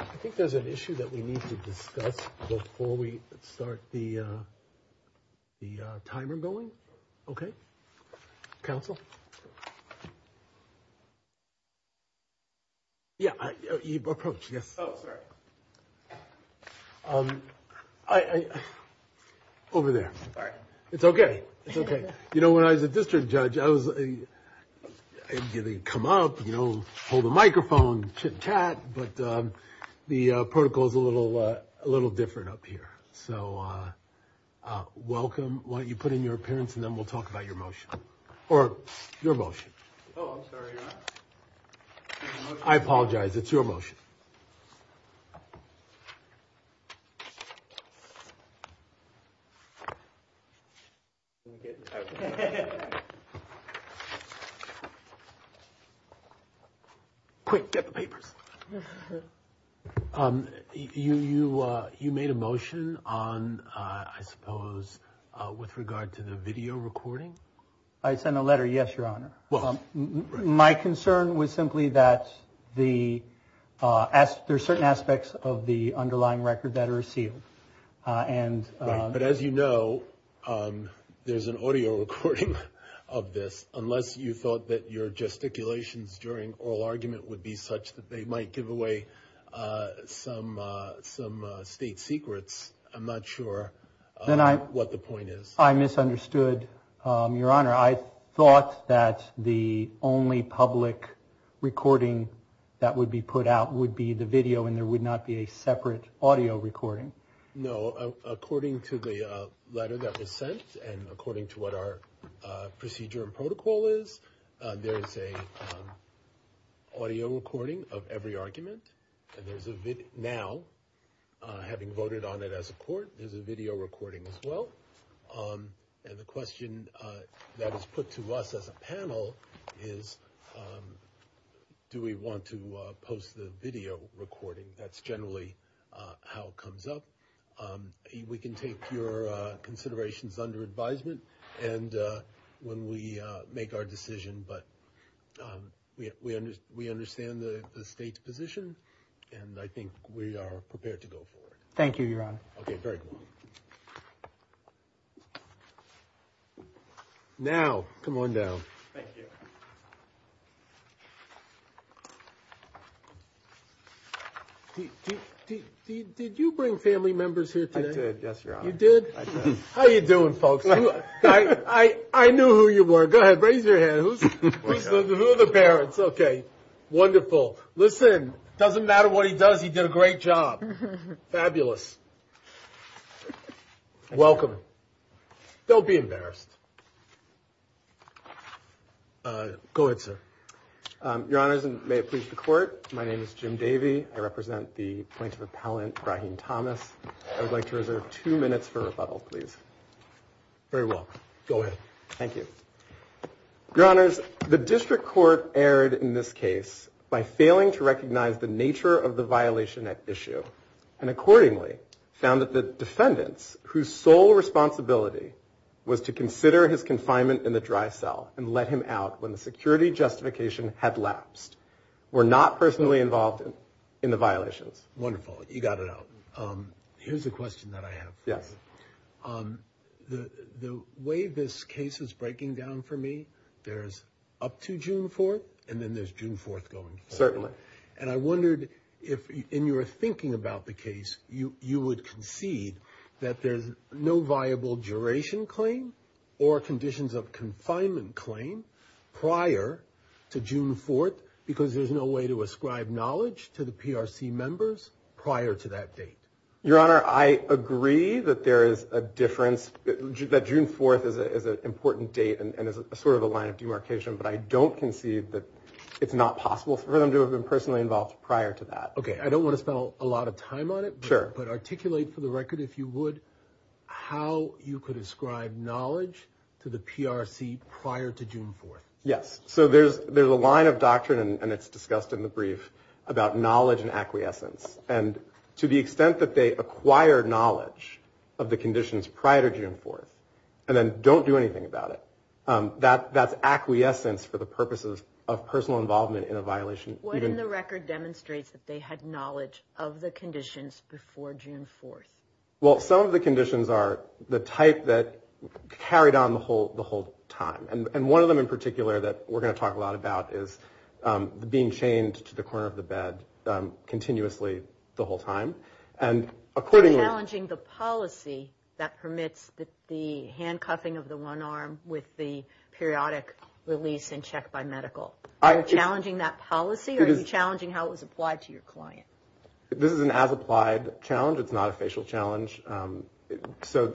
I think there's an issue that we need to discuss before we start the timer going, okay? Council? Yeah, approach, yes. Over there. It's okay. It's okay. You know, when I was a district judge, I was going to come up, you know, hold the microphone, chit chat. But the protocol is a little different up here. So welcome. Why don't you put in your appearance and then we'll talk about your motion or your motion. Oh, I'm sorry. I apologize. It's your motion. Quick get the papers. You you you made a motion on, I suppose, with regard to the video recording. I sent a letter. Yes, your honor. Well, my concern was simply that the there's certain aspects of the underlying record that are sealed. And but as you know, there's an audio recording of this. Unless you thought that your gesticulations during oral argument would be such that they might give away some some state secrets. I'm not sure what the point is. I misunderstood, your honor. I thought that the only public recording that would be put out would be the video and there would not be a separate audio recording. No, according to the letter that was sent and according to what our procedure and protocol is, there is a audio recording of every argument and there's a video now having voted on it as a court. There's a video recording as well. And the question that is put to us as a panel is, do we want to post the video recording? That's generally how it comes up. We can take your considerations under advisement. And when we make our decision, but we we understand the state's position and I think we are prepared to go forward. Thank you, your honor. Okay, very good. Now, come on down. Thank you. Did you bring family members here today? Yes, your honor. You did? How are you doing, folks? I knew who you were. Go ahead. Raise your hand. Who are the parents? Okay, wonderful. Listen, doesn't matter what he does. He did a great job. Fabulous. Welcome. Don't be embarrassed. Go ahead, sir. Your honors, and may it please the court. My name is Jim Davey. I represent the plaintiff appellant, Rahim Thomas. I would like to reserve two minutes for rebuttal, please. Very well. Go ahead. Thank you. Your honors, the district court erred in this case by failing to recognize the nature of the violation at issue and accordingly found that the defendants, whose sole responsibility was to consider his confinement in the dry cell and let him out when the security justification had lapsed, were not personally involved in the violations. Wonderful. You got it out. Here's a question that I have. Yes. The way this case is breaking down for me, there's up to June 4th and then there's June 4th going. Certainly. And I wondered if in your thinking about the case, you would concede that there's no viable duration claim or conditions of confinement claim prior to June 4th because there's no way to ascribe knowledge to the PRC members prior to that date. Your honor, I agree that there is a difference, that June 4th is an important date and is sort of a line of demarcation. But I don't concede that it's not possible for them to have been personally involved prior to that. OK, I don't want to spend a lot of time on it. Sure. But articulate for the record, if you would, how you could ascribe knowledge to the PRC prior to June 4th. Yes. So there's there's a line of doctrine and it's discussed in the brief about knowledge and acquiescence. And to the extent that they acquire knowledge of the conditions prior to June 4th and then don't do anything about it, that that's acquiescence for the purposes of personal involvement in a violation. What in the record demonstrates that they had knowledge of the conditions before June 4th? Well, some of the conditions are the type that carried on the whole the whole time. And one of them in particular that we're going to talk a lot about is being chained to the corner of the bed continuously the whole time. And according to challenging the policy that permits the handcuffing of the one arm with the periodic release and check by medical, are you challenging that policy or are you challenging how it was applied to your client? This is an as applied challenge. It's not a facial challenge. So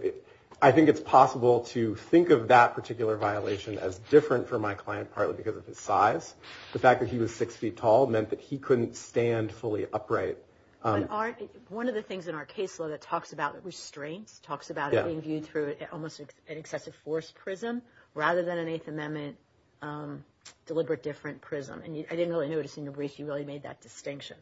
I think it's possible to think of that particular violation as different for my client, partly because of his size. The fact that he was six feet tall meant that he couldn't stand fully upright. But one of the things in our case law that talks about restraints, talks about being viewed through almost an excessive force prism rather than an Eighth Amendment deliberate different prism. And I didn't really notice in the brief you really made that distinction.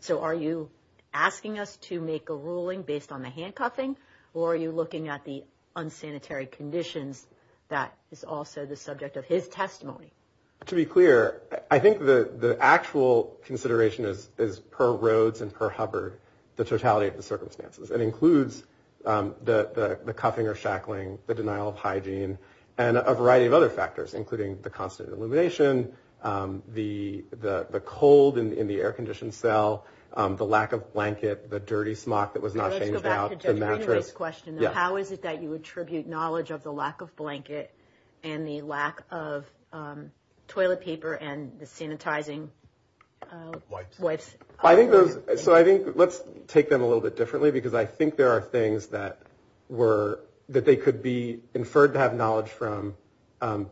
So are you asking us to make a ruling based on the handcuffing or are you looking at the unsanitary conditions that is also the subject of his testimony? To be clear, I think the actual consideration is per Rhodes and per Hubbard, the totality of the circumstances. It includes the cuffing or shackling, the denial of hygiene and a variety of other factors, including the constant illumination, the cold in the air conditioned cell, the lack of blanket, the dirty smock that was not changed out, the mattress. How is it that you attribute knowledge of the lack of blanket and the lack of toilet paper and the sanitizing wipes? I think those. So I think let's take them a little bit differently, because I think there are things that were that they could be inferred to have knowledge from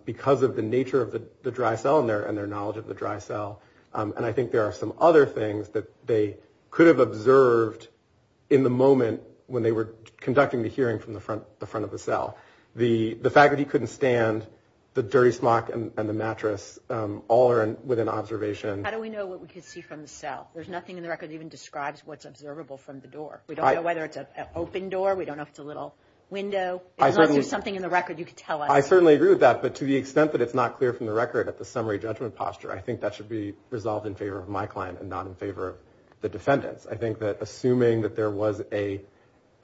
because of the nature of the dry cell and their and their knowledge of the dry cell. And I think there are some other things that they could have observed in the moment when they were conducting the hearing from the front, the front of the cell. The fact that he couldn't stand the dirty smock and the mattress all are within observation. How do we know what we can see from the cell? There's nothing in the record even describes what's observable from the door. We don't know whether it's an open door. We don't know if it's a little window. Unless there's something in the record you could tell us. I certainly agree with that. But to the extent that it's not clear from the record at the summary judgment posture, I think that should be resolved in favor of my client and not in favor of the defendants. I think that assuming that there was a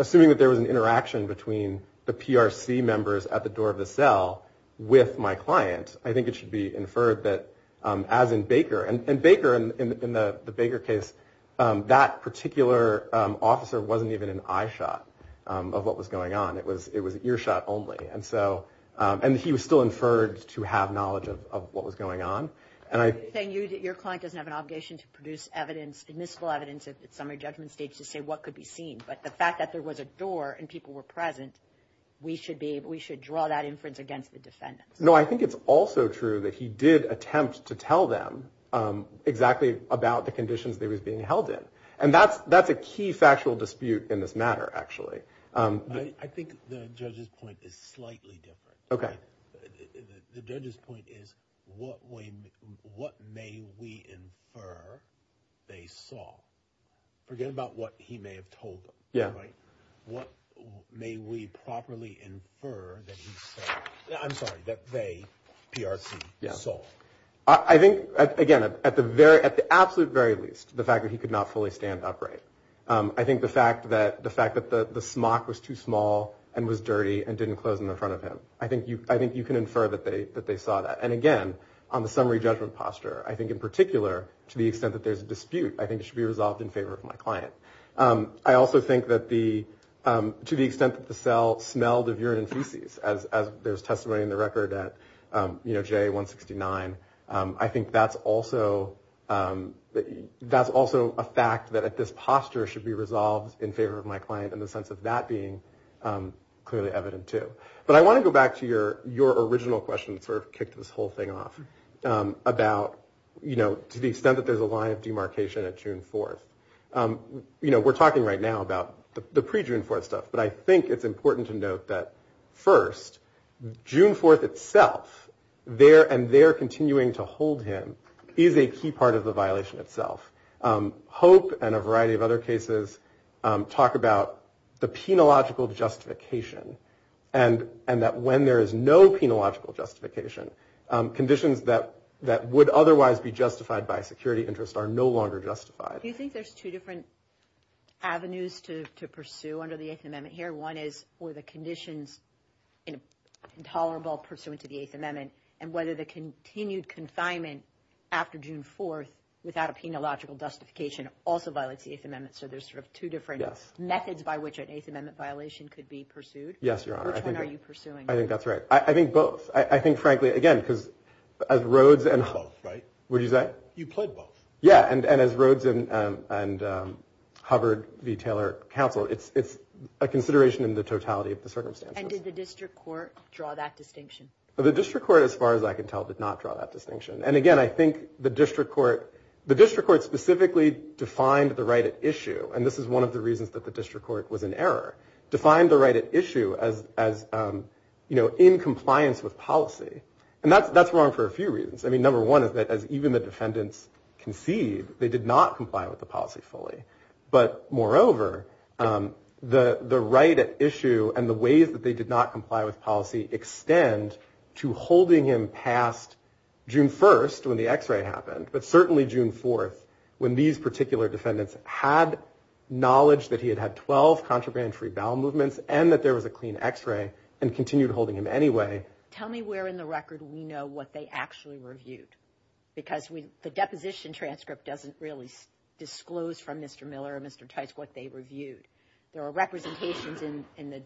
assuming that there was an interaction between the PRC members at the door of the cell with my client. I think it should be inferred that as in Baker and Baker in the Baker case, that particular officer wasn't even an eye shot of what was going on. It was it was an ear shot only. And so and he was still inferred to have knowledge of what was going on. And I think your client doesn't have an obligation to produce evidence, admissible evidence at summary judgment stage to say what could be seen. But the fact that there was a door and people were present, we should be we should draw that inference against the defendants. No, I think it's also true that he did attempt to tell them exactly about the conditions they was being held in. And that's that's a key factual dispute in this matter, actually. I think the judge's point is slightly different. OK, the judge's point is what we what may we infer they saw. Forget about what he may have told them. Yeah. Right. What may we properly infer that? I'm sorry that they PRC. So I think, again, at the very at the absolute very least, the fact that he could not fully stand upright. I think the fact that the fact that the smock was too small and was dirty and didn't close in front of him. I think you I think you can infer that they that they saw that. And again, on the summary judgment posture, I think in particular to the extent that there's a dispute, I think it should be resolved in favor of my client. I also think that the to the extent that the cell smelled of urine and feces, as there's testimony in the record that, you know, J one sixty nine. I think that's also that's also a fact that at this posture should be resolved in favor of my client in the sense of that being clearly evident, too. But I want to go back to your your original question sort of kicked this whole thing off about, you know, to the extent that there's a line of demarcation at June 4th. You know, we're talking right now about the pre June 4th stuff. But I think it's important to note that first June 4th itself there and they're continuing to hold him is a key part of the violation itself. Hope and a variety of other cases talk about the penological justification and and that when there is no penological justification, conditions that that would otherwise be justified by security interests are no longer justified. Do you think there's two different avenues to pursue under the 8th Amendment here? One is for the conditions intolerable pursuant to the 8th Amendment. And whether the continued confinement after June 4th without a penological justification also violates the 8th Amendment. So there's sort of two different methods by which an 8th Amendment violation could be pursued. Yes, your honor. Are you pursuing? I think that's right. I think both. I think, frankly, again, because as roads and hope. Right. Would you say you played both? Yeah. And as roads and and Hubbard v. Taylor Council, it's it's a consideration in the totality of the circumstance. And did the district court draw that distinction? The district court, as far as I can tell, did not draw that distinction. And again, I think the district court, the district court specifically defined the right at issue. And this is one of the reasons that the district court was in error to find the right at issue as as, you know, in compliance with policy. And that's that's wrong for a few reasons. I mean, number one is that as even the defendants concede they did not comply with the policy fully. But moreover, the right at issue and the ways that they did not comply with policy extend to holding him past June 1st when the X-ray happened. But certainly June 4th, when these particular defendants had knowledge that he had had 12 contraband free bowel movements and that there was a clean X-ray and continued holding him anyway. Tell me where in the record we know what they actually reviewed, because we the deposition transcript doesn't really disclose from Mr. Miller, Mr. Tice, what they reviewed. There are representations in the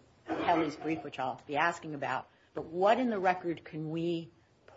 brief, which I'll be asking about. But what in the record can we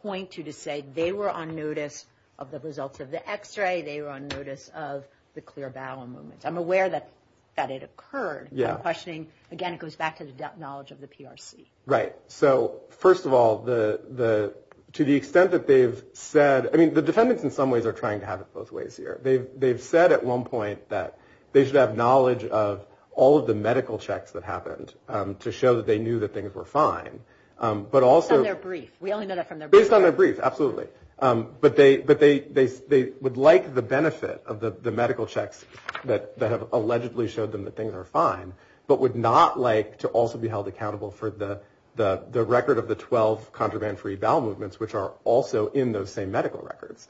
point to to say they were on notice of the results of the X-ray? They were on notice of the clear bowel movements. I'm aware that that it occurred. Questioning again, it goes back to the knowledge of the PRC. Right. So, first of all, the the to the extent that they've said, I mean, the defendants in some ways are trying to have it both ways here. They've they've said at one point that they should have knowledge of all of the medical checks that happened to show that they knew that things were fine. But also their brief. We only know that from their based on their brief. Absolutely. But they but they they they would like the benefit of the medical checks that that have allegedly showed them that things are fine, but would not like to also be held accountable for the the the record of the 12 contraband free bowel movements, which are also in those same medical records.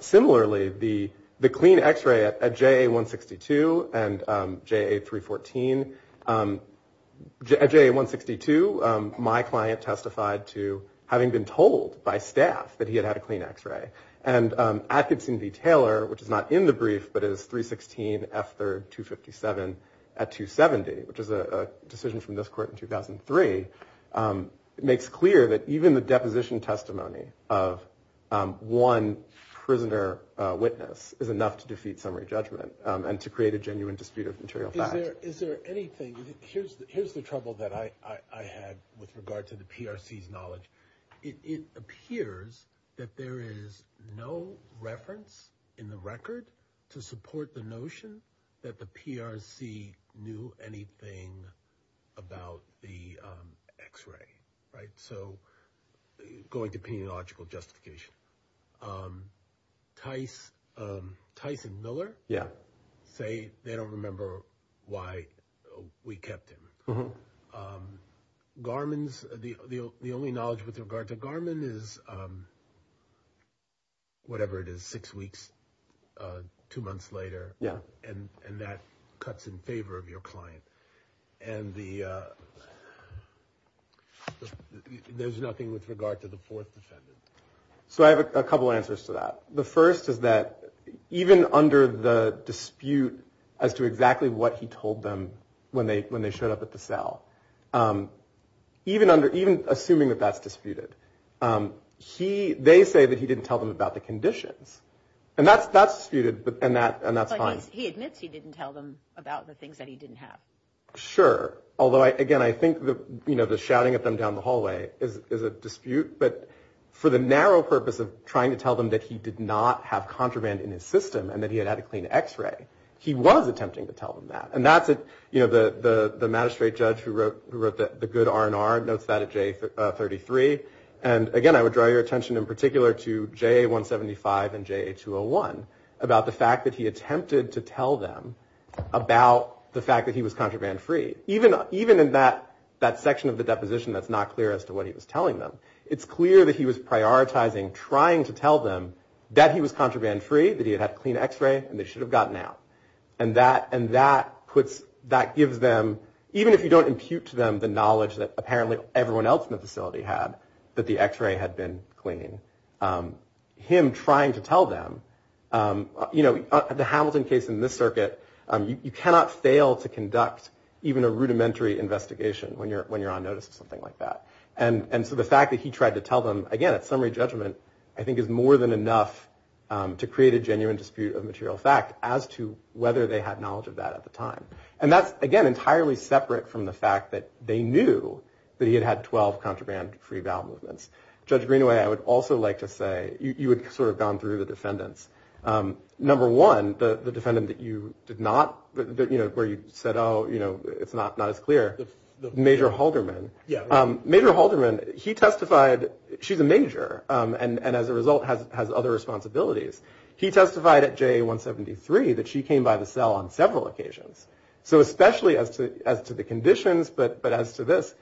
Similarly, the the clean X-ray at J.A. 162 and J.A. 314, J.A. 162. My client testified to having been told by staff that he had had a clean X-ray. And I could seem to be Taylor, which is not in the brief, but is 316 after 257 at 270, which is a decision from this court in 2003. It makes clear that even the deposition testimony of one prisoner witness is enough to defeat summary judgment. And to create a genuine dispute of material. Is there anything here? Here's the trouble that I had with regard to the PRC's knowledge. It appears that there is no reference in the record to support the notion that the PRC knew anything about the X-ray. Right. So going to pediological justification, Tice, Tyson Miller. Yeah. Say they don't remember why we kept him. Garmin's the the only knowledge with regard to Garmin is. Whatever it is, six weeks, two months later. Yeah. And that cuts in favor of your client and the. There's nothing with regard to the fourth defendant. So I have a couple of answers to that. The first is that even under the dispute as to exactly what he told them when they when they showed up at the cell, even under, even assuming that that's disputed, he they say that he didn't tell them about the conditions. And that's that's disputed. And that and that's fine. He admits he didn't tell them about the things that he didn't have. Sure. Although, again, I think that, you know, the shouting at them down the hallway is a dispute. But for the narrow purpose of trying to tell them that he did not have contraband in his system and that he had had a clean X-ray, he was attempting to tell them that. And that's it. You know, the magistrate judge who wrote the good R&R notes that at J33. And again, I would draw your attention in particular to J175 and J201 about the fact that he attempted to tell them about the fact that he was contraband free. Even even in that that section of the deposition, that's not clear as to what he was telling them. It's clear that he was prioritizing trying to tell them that he was contraband free, that he had had clean X-ray and they should have gotten out. And that and that puts that gives them even if you don't impute to them the knowledge that apparently everyone else in the facility had. But the X-ray had been clean. Him trying to tell them, you know, the Hamilton case in this circuit, you cannot fail to conduct even a rudimentary investigation when you're when you're on notice or something like that. And so the fact that he tried to tell them, again, at summary judgment, I think is more than enough to create a genuine dispute of material fact as to whether they had knowledge of that at the time. And that's, again, entirely separate from the fact that they knew that he had had 12 contraband free bail movements. Judge Greenaway, I would also like to say you had sort of gone through the defendants. Number one, the defendant that you did not know where you said, oh, you know, it's not not as clear. The Major Halderman. Yeah. Major Halderman. He testified. She's a major. And as a result, has has other responsibilities. He testified at Jay 173 that she came by the cell on several occasions. So especially as to as to the conditions. But but as to this,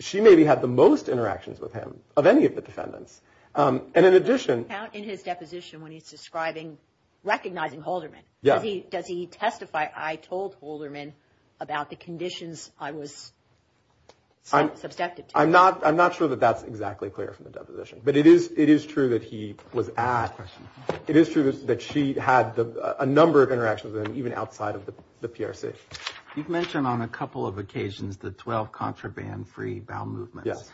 she maybe had the most interactions with him of any of the defendants. And in addition, in his deposition, when he's describing recognizing Halderman, does he does he testify? I told Halderman about the conditions I was. I'm subjective. I'm not I'm not sure that that's exactly clear from the deposition, but it is. It is true that he was at. It is true that she had a number of interactions and even outside of the PRC. You've mentioned on a couple of occasions that 12 contraband free bail movements. Yes.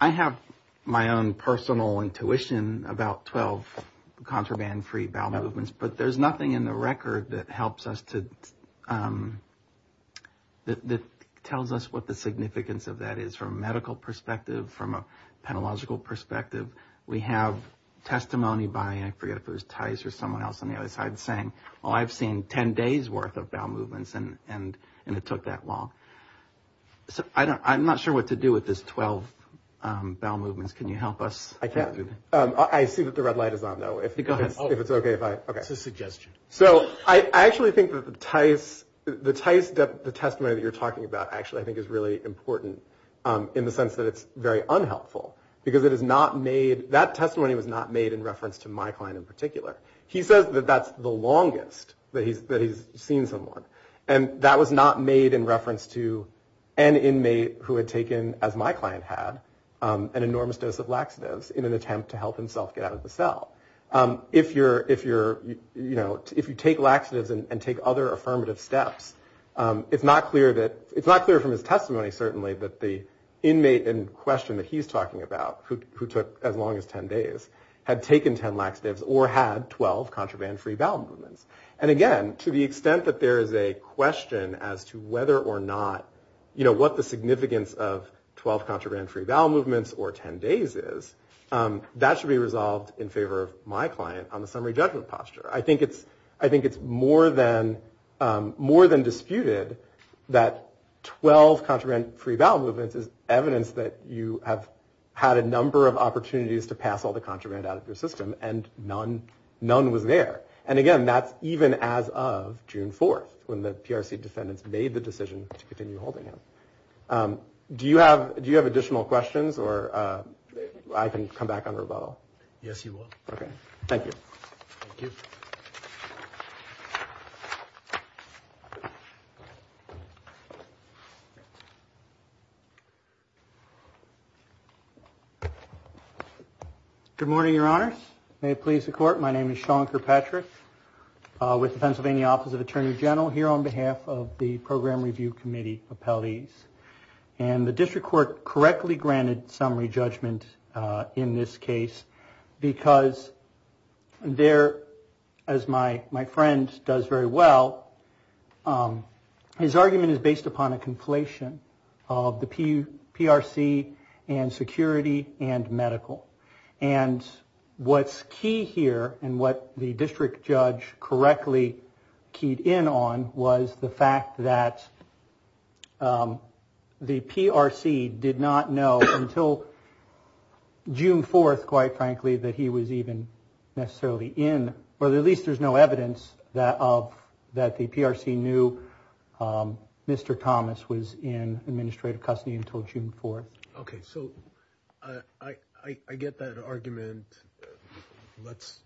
I have my own personal intuition about 12 contraband free bail movements, but there's nothing in the record that helps us to that tells us what the significance of that is from a medical perspective, from a pedagogical perspective. We have testimony by I forget if it was ties or someone else on the other side saying, oh, I've seen 10 days worth of bail movements. And and and it took that long. So I don't I'm not sure what to do with this 12 bail movements. Can you help us? I can't. I see that the red light is on, though, if it's OK, if I get a suggestion. So I actually think that the ties, the ties, the testimony that you're talking about, actually, I think is really important in the sense that it's very unhelpful because it is not made. That testimony was not made in reference to my client in particular. He says that that's the longest that he's that he's seen someone. And that was not made in reference to an inmate who had taken, as my client had, an enormous dose of laxatives in an attempt to help himself get out of the cell. If you're if you're you know, if you take laxatives and take other affirmative steps, it's not clear that it's not clear from his testimony, certainly, that the inmate in question that he's talking about, who took as long as 10 days, had taken 10 laxatives or had 12 contraband free bowel movements. And again, to the extent that there is a question as to whether or not, you know, what the significance of 12 contraband free bowel movements or 10 days is, that should be resolved in favor of my client on the summary judgment posture. I think it's I think it's more than more than disputed that 12 contraband free bowel movements is evidence that you have had a number of opportunities to pass all the contraband out of your system and none, none was there. And again, that's even as of June 4th, when the PRC defendants made the decision to continue holding him. Do you have do you have additional questions or I can come back on rebuttal? Yes, you will. Okay. Thank you. Good morning, Your Honors. May it please the court. My name is Sean Kirkpatrick with the Pennsylvania Office of Attorney General here on behalf of the Program Review Committee appellees. And the district court correctly granted summary judgment in this case because there, as my friend does very well, his argument is based upon a conflation of the PRC and security and medical. And what's key here and what the district judge correctly keyed in on was the fact that the PRC did not know until June 4th, quite frankly, that he was even necessarily in or at least there's no evidence that of that the PRC knew Mr. Thomas was in administrative custody until June 4th. OK, so I get that argument. Let's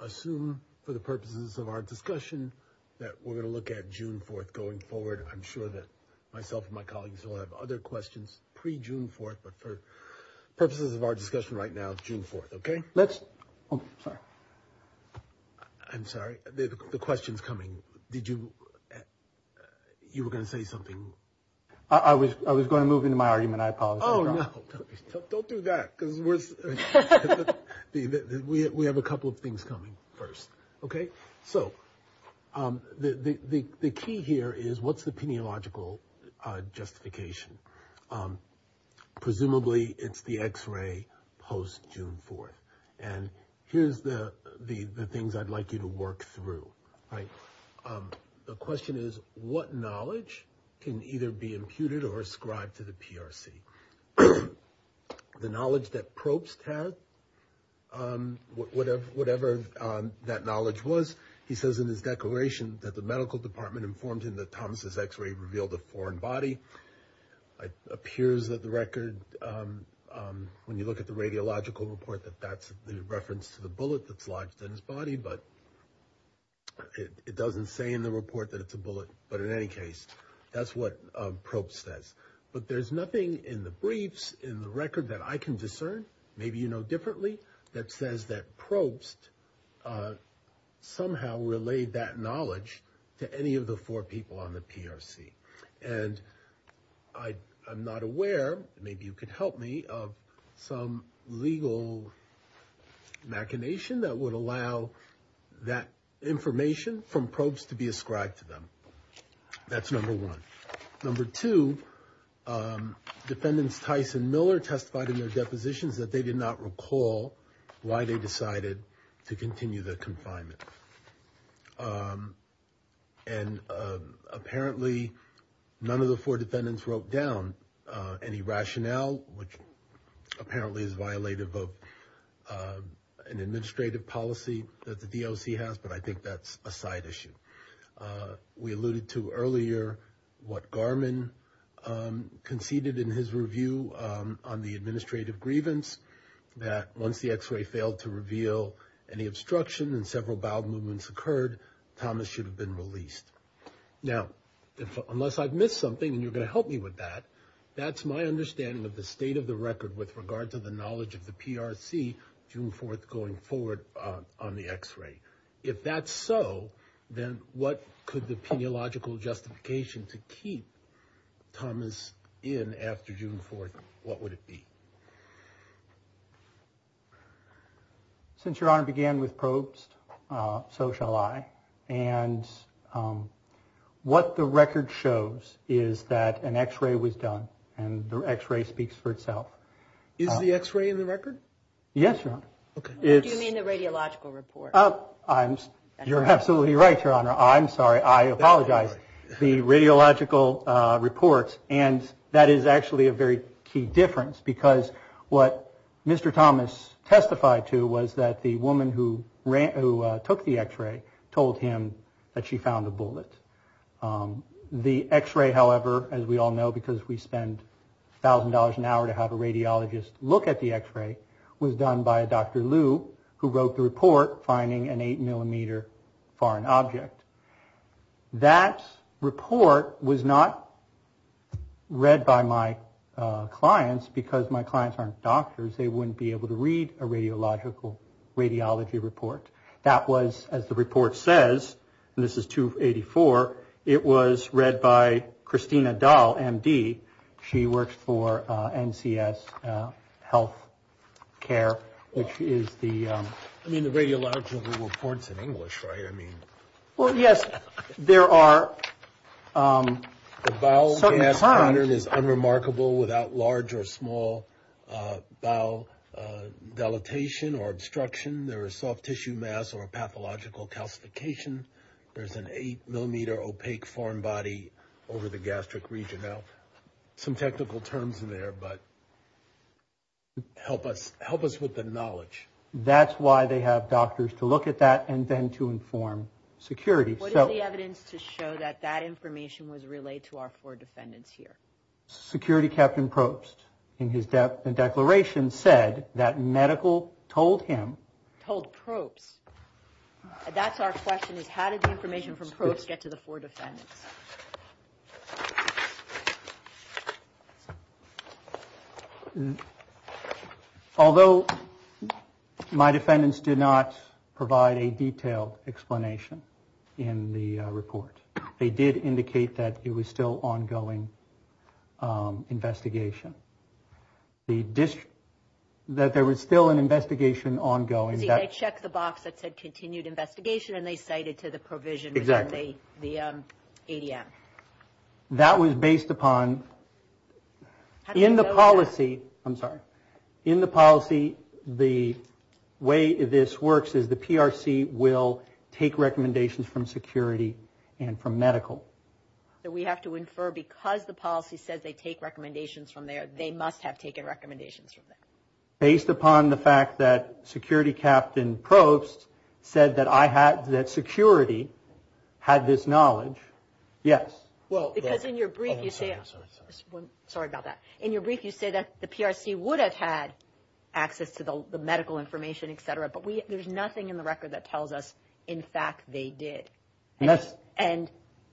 assume for the purposes of our discussion that we're going to look at June 4th going forward. I'm sure that myself and my colleagues will have other questions pre June 4th. But for purposes of our discussion right now, June 4th. OK, let's. I'm sorry. The question's coming. Did you you were going to say something? I was I was going to move into my argument. I apologize. Oh, no, don't do that, because we have a couple of things coming first. OK, so the key here is what's the peniological justification? Presumably it's the X-ray post June 4th. And here's the the things I'd like you to work through. The question is, what knowledge can either be imputed or ascribed to the PRC? The knowledge that probes have, whatever, whatever that knowledge was, he says in his declaration that the medical department informed him that Thomas's X-ray revealed a foreign body. It appears that the record, when you look at the radiological report, that that's the reference to the bullet that's lodged in his body. But it doesn't say in the report that it's a bullet. But in any case, that's what Probst says. But there's nothing in the briefs, in the record that I can discern. Maybe, you know, differently. That says that Probst somehow relayed that knowledge to any of the four people on the PRC. And I I'm not aware, maybe you could help me, of some legal machination that would allow that information from Probst to be ascribed to them. That's number one. Number two, defendants Tyson Miller testified in their depositions that they did not recall why they decided to continue the confinement. And apparently none of the four defendants wrote down any rationale, which apparently is violative of an administrative policy that the DOC has. But I think that's a side issue. We alluded to earlier what Garman conceded in his review on the administrative grievance that once the X-ray failed to reveal any obstruction and several bowel movements occurred, Thomas should have been released. Now, unless I've missed something and you're going to help me with that. That's my understanding of the state of the record with regard to the knowledge of the PRC, June 4th, going forward on the X-ray. If that's so, then what could the peniological justification to keep Thomas in after June 4th, what would it be? Since Your Honor began with Probst, so shall I. And what the record shows is that an X-ray was done and the X-ray speaks for itself. Is the X-ray in the record? Yes, Your Honor. Do you mean the radiological report? You're absolutely right, Your Honor. I'm sorry. I apologize. The radiological report and that is actually a very key difference because what Mr. Thomas testified to was that the woman who took the X-ray told him that she found a bullet. The X-ray, however, as we all know, because we spend $1,000 an hour to have a radiologist look at the X-ray, was done by a Dr. Lu who wrote the report finding an eight millimeter foreign object. That report was not read by my clients because my clients aren't doctors. They wouldn't be able to read a radiological radiology report. That was, as the report says, and this is 284, it was read by Christina Dahl, M.D. She works for NCS Health Care, which is the- I mean the radiological report's in English, right? I mean- Well, yes, there are certain kinds- The bowel mass pattern is unremarkable without large or small bowel dilatation or obstruction. There is soft tissue mass or pathological calcification. There's an eight millimeter opaque foreign body over the gastric region. Now, some technical terms in there, but help us with the knowledge. That's why they have doctors to look at that and then to inform security. What is the evidence to show that that information was relayed to our four defendants here? Security Captain Probst, in his declaration, said that medical told him- How did the information from Probst get to the four defendants? Although my defendants did not provide a detailed explanation in the report, they did indicate that it was still ongoing investigation. That there was still an investigation ongoing- They checked the box that said continued investigation, and they cited to the provision within the ADM. That was based upon- In the policy- I'm sorry. In the policy, the way this works is the PRC will take recommendations from security and from medical. We have to infer because the policy says they take recommendations from there, they must have taken recommendations from there. Based upon the fact that Security Captain Probst said that security had this knowledge, yes. Because in your brief you say- Sorry about that. In your brief you say that the PRC would have had access to the medical information, et cetera, but there's nothing in the record that tells us, in fact, they did. And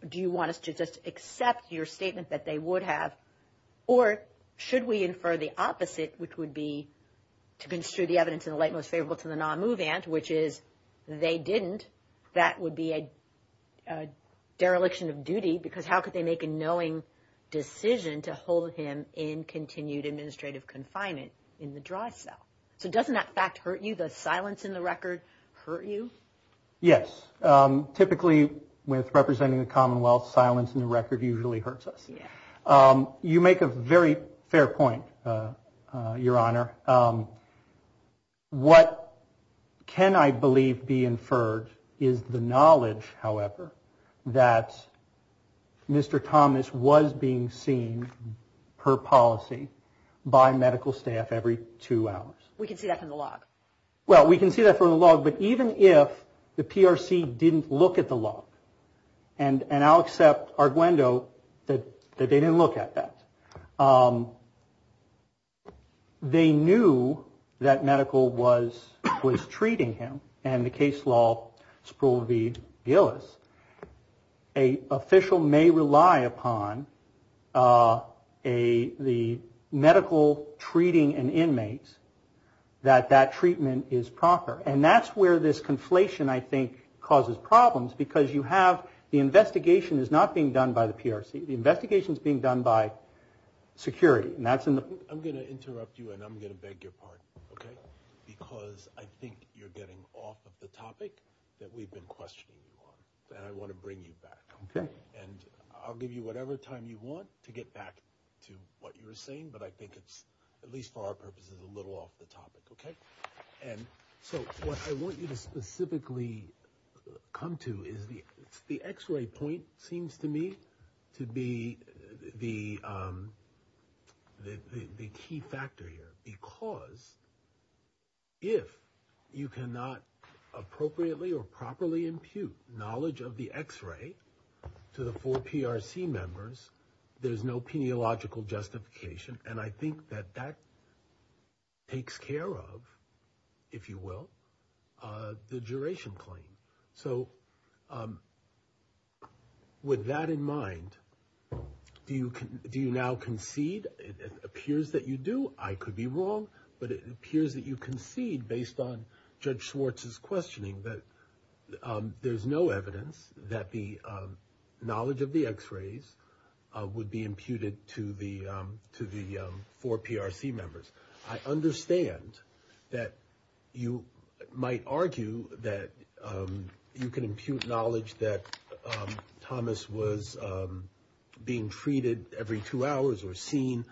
do you want us to just accept your statement that they would have, Or should we infer the opposite, which would be to construe the evidence in the light most favorable to the non-move ant, which is they didn't, that would be a dereliction of duty, because how could they make a knowing decision to hold him in continued administrative confinement in the dry cell? So doesn't that fact hurt you? Does silence in the record hurt you? Yes. Typically, with representing the Commonwealth, silence in the record usually hurts us. You make a very fair point, Your Honor. What can I believe be inferred is the knowledge, however, that Mr. Thomas was being seen per policy by medical staff every two hours. We can see that from the log. Well, we can see that from the log, but even if the PRC didn't look at the log, and I'll accept Arguendo that they didn't look at that, they knew that medical was treating him, and the case law, Sproul v. Gillis, an official may rely upon the medical treating an inmate, that that treatment is proper. And that's where this conflation, I think, causes problems, because you have the investigation is not being done by the PRC. The investigation is being done by security. I'm going to interrupt you, and I'm going to beg your pardon, okay, because I think you're getting off of the topic that we've been questioning you on, and I want to bring you back. Okay. And I'll give you whatever time you want to get back to what you were saying, but I think it's, at least for our purposes, a little off the topic, okay? And so what I want you to specifically come to is the X-ray point seems to me to be the key factor here, because if you cannot appropriately or properly impute knowledge of the X-ray to the four PRC members, there's no peniological justification, and I think that that takes care of, if you will, the duration claim. So with that in mind, do you now concede? It appears that you do. I could be wrong, but it appears that you concede based on Judge Schwartz's questioning that there's no evidence that the knowledge of the X-rays would be imputed to the four PRC members. I understand that you might argue that you can impute knowledge that Thomas was being treated every two hours or seen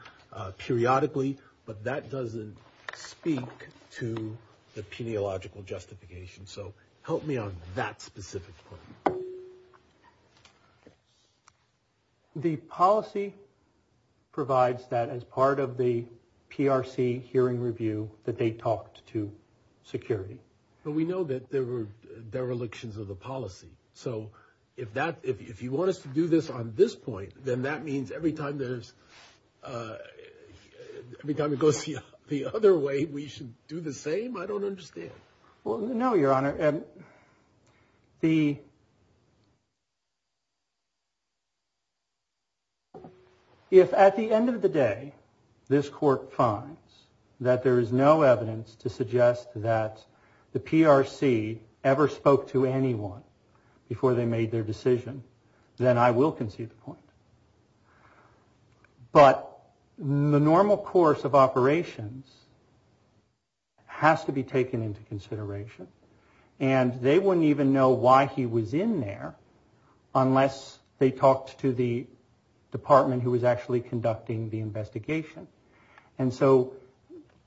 periodically, but that doesn't speak to the peniological justification. So help me on that specific point. The policy provides that as part of the PRC hearing review that they talked to security. But we know that there were derelictions of the policy, so if you want us to do this on this point, then that means every time it goes the other way, we should do the same? I don't understand. Well, no, Your Honor. If at the end of the day this Court finds that there is no evidence to suggest that the PRC ever spoke to anyone before they made their decision, then I will concede the point. But the normal course of operations has to be taken into consideration, and they wouldn't even know why he was in there unless they talked to the department who was actually conducting the investigation. And so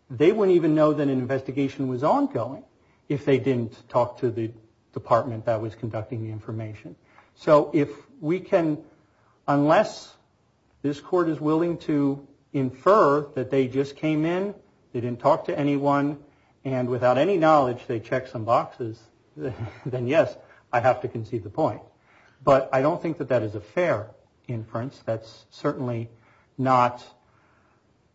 they wouldn't even know that an investigation was ongoing if they didn't talk to the department that was conducting the information. So if we can, unless this Court is willing to infer that they just came in, they didn't talk to anyone, and without any knowledge they checked some boxes, then yes, I have to concede the point. But I don't think that that is a fair inference. That's certainly not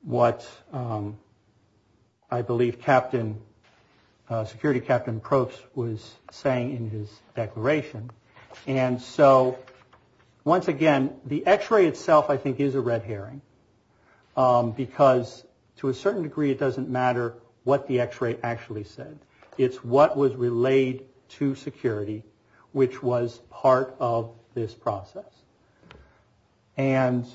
what I believe Security Captain Probst was saying in his declaration. And so once again, the X-ray itself I think is a red herring, because to a certain degree it doesn't matter what the X-ray actually said. It's what was relayed to Security, which was part of this process. And...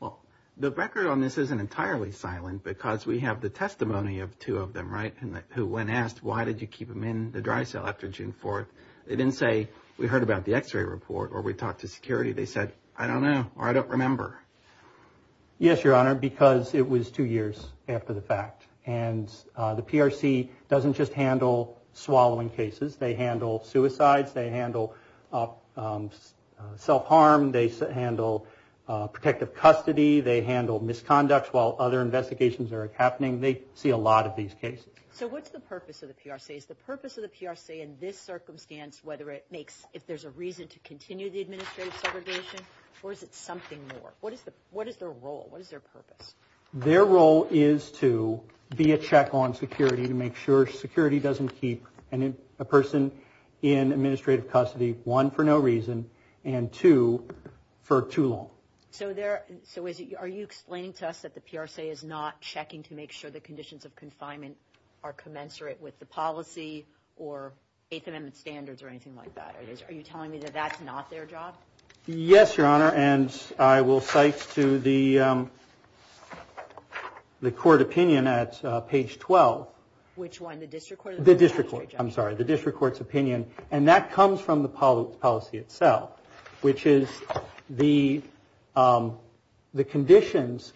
Well, the record on this isn't entirely silent, because we have the testimony of two of them, right, who when asked why did you keep him in the dry cell after June 4th, they didn't say, we heard about the X-ray report or we talked to Security. They said, I don't know or I don't remember. Yes, Your Honor, because it was two years after the fact. And the PRC doesn't just handle swallowing cases. They handle suicides. They handle self-harm. They handle protective custody. They handle misconduct while other investigations are happening. They see a lot of these cases. So what's the purpose of the PRC? Is the purpose of the PRC in this circumstance, whether it makes, if there's a reason to continue the administrative segregation, or is it something more? What is their role? What is their purpose? Their role is to be a check on security, to make sure security doesn't keep a person in administrative custody, one, for no reason, and two, for too long. So are you explaining to us that the PRC is not checking to make sure the conditions of confinement are commensurate with the policy or Eighth Amendment standards or anything like that? Are you telling me that that's not their job? Yes, Your Honor. Thank you, Your Honor, and I will cite to the court opinion at page 12. Which one? The district court? The district court. I'm sorry. The district court's opinion, and that comes from the policy itself, which is the conditions,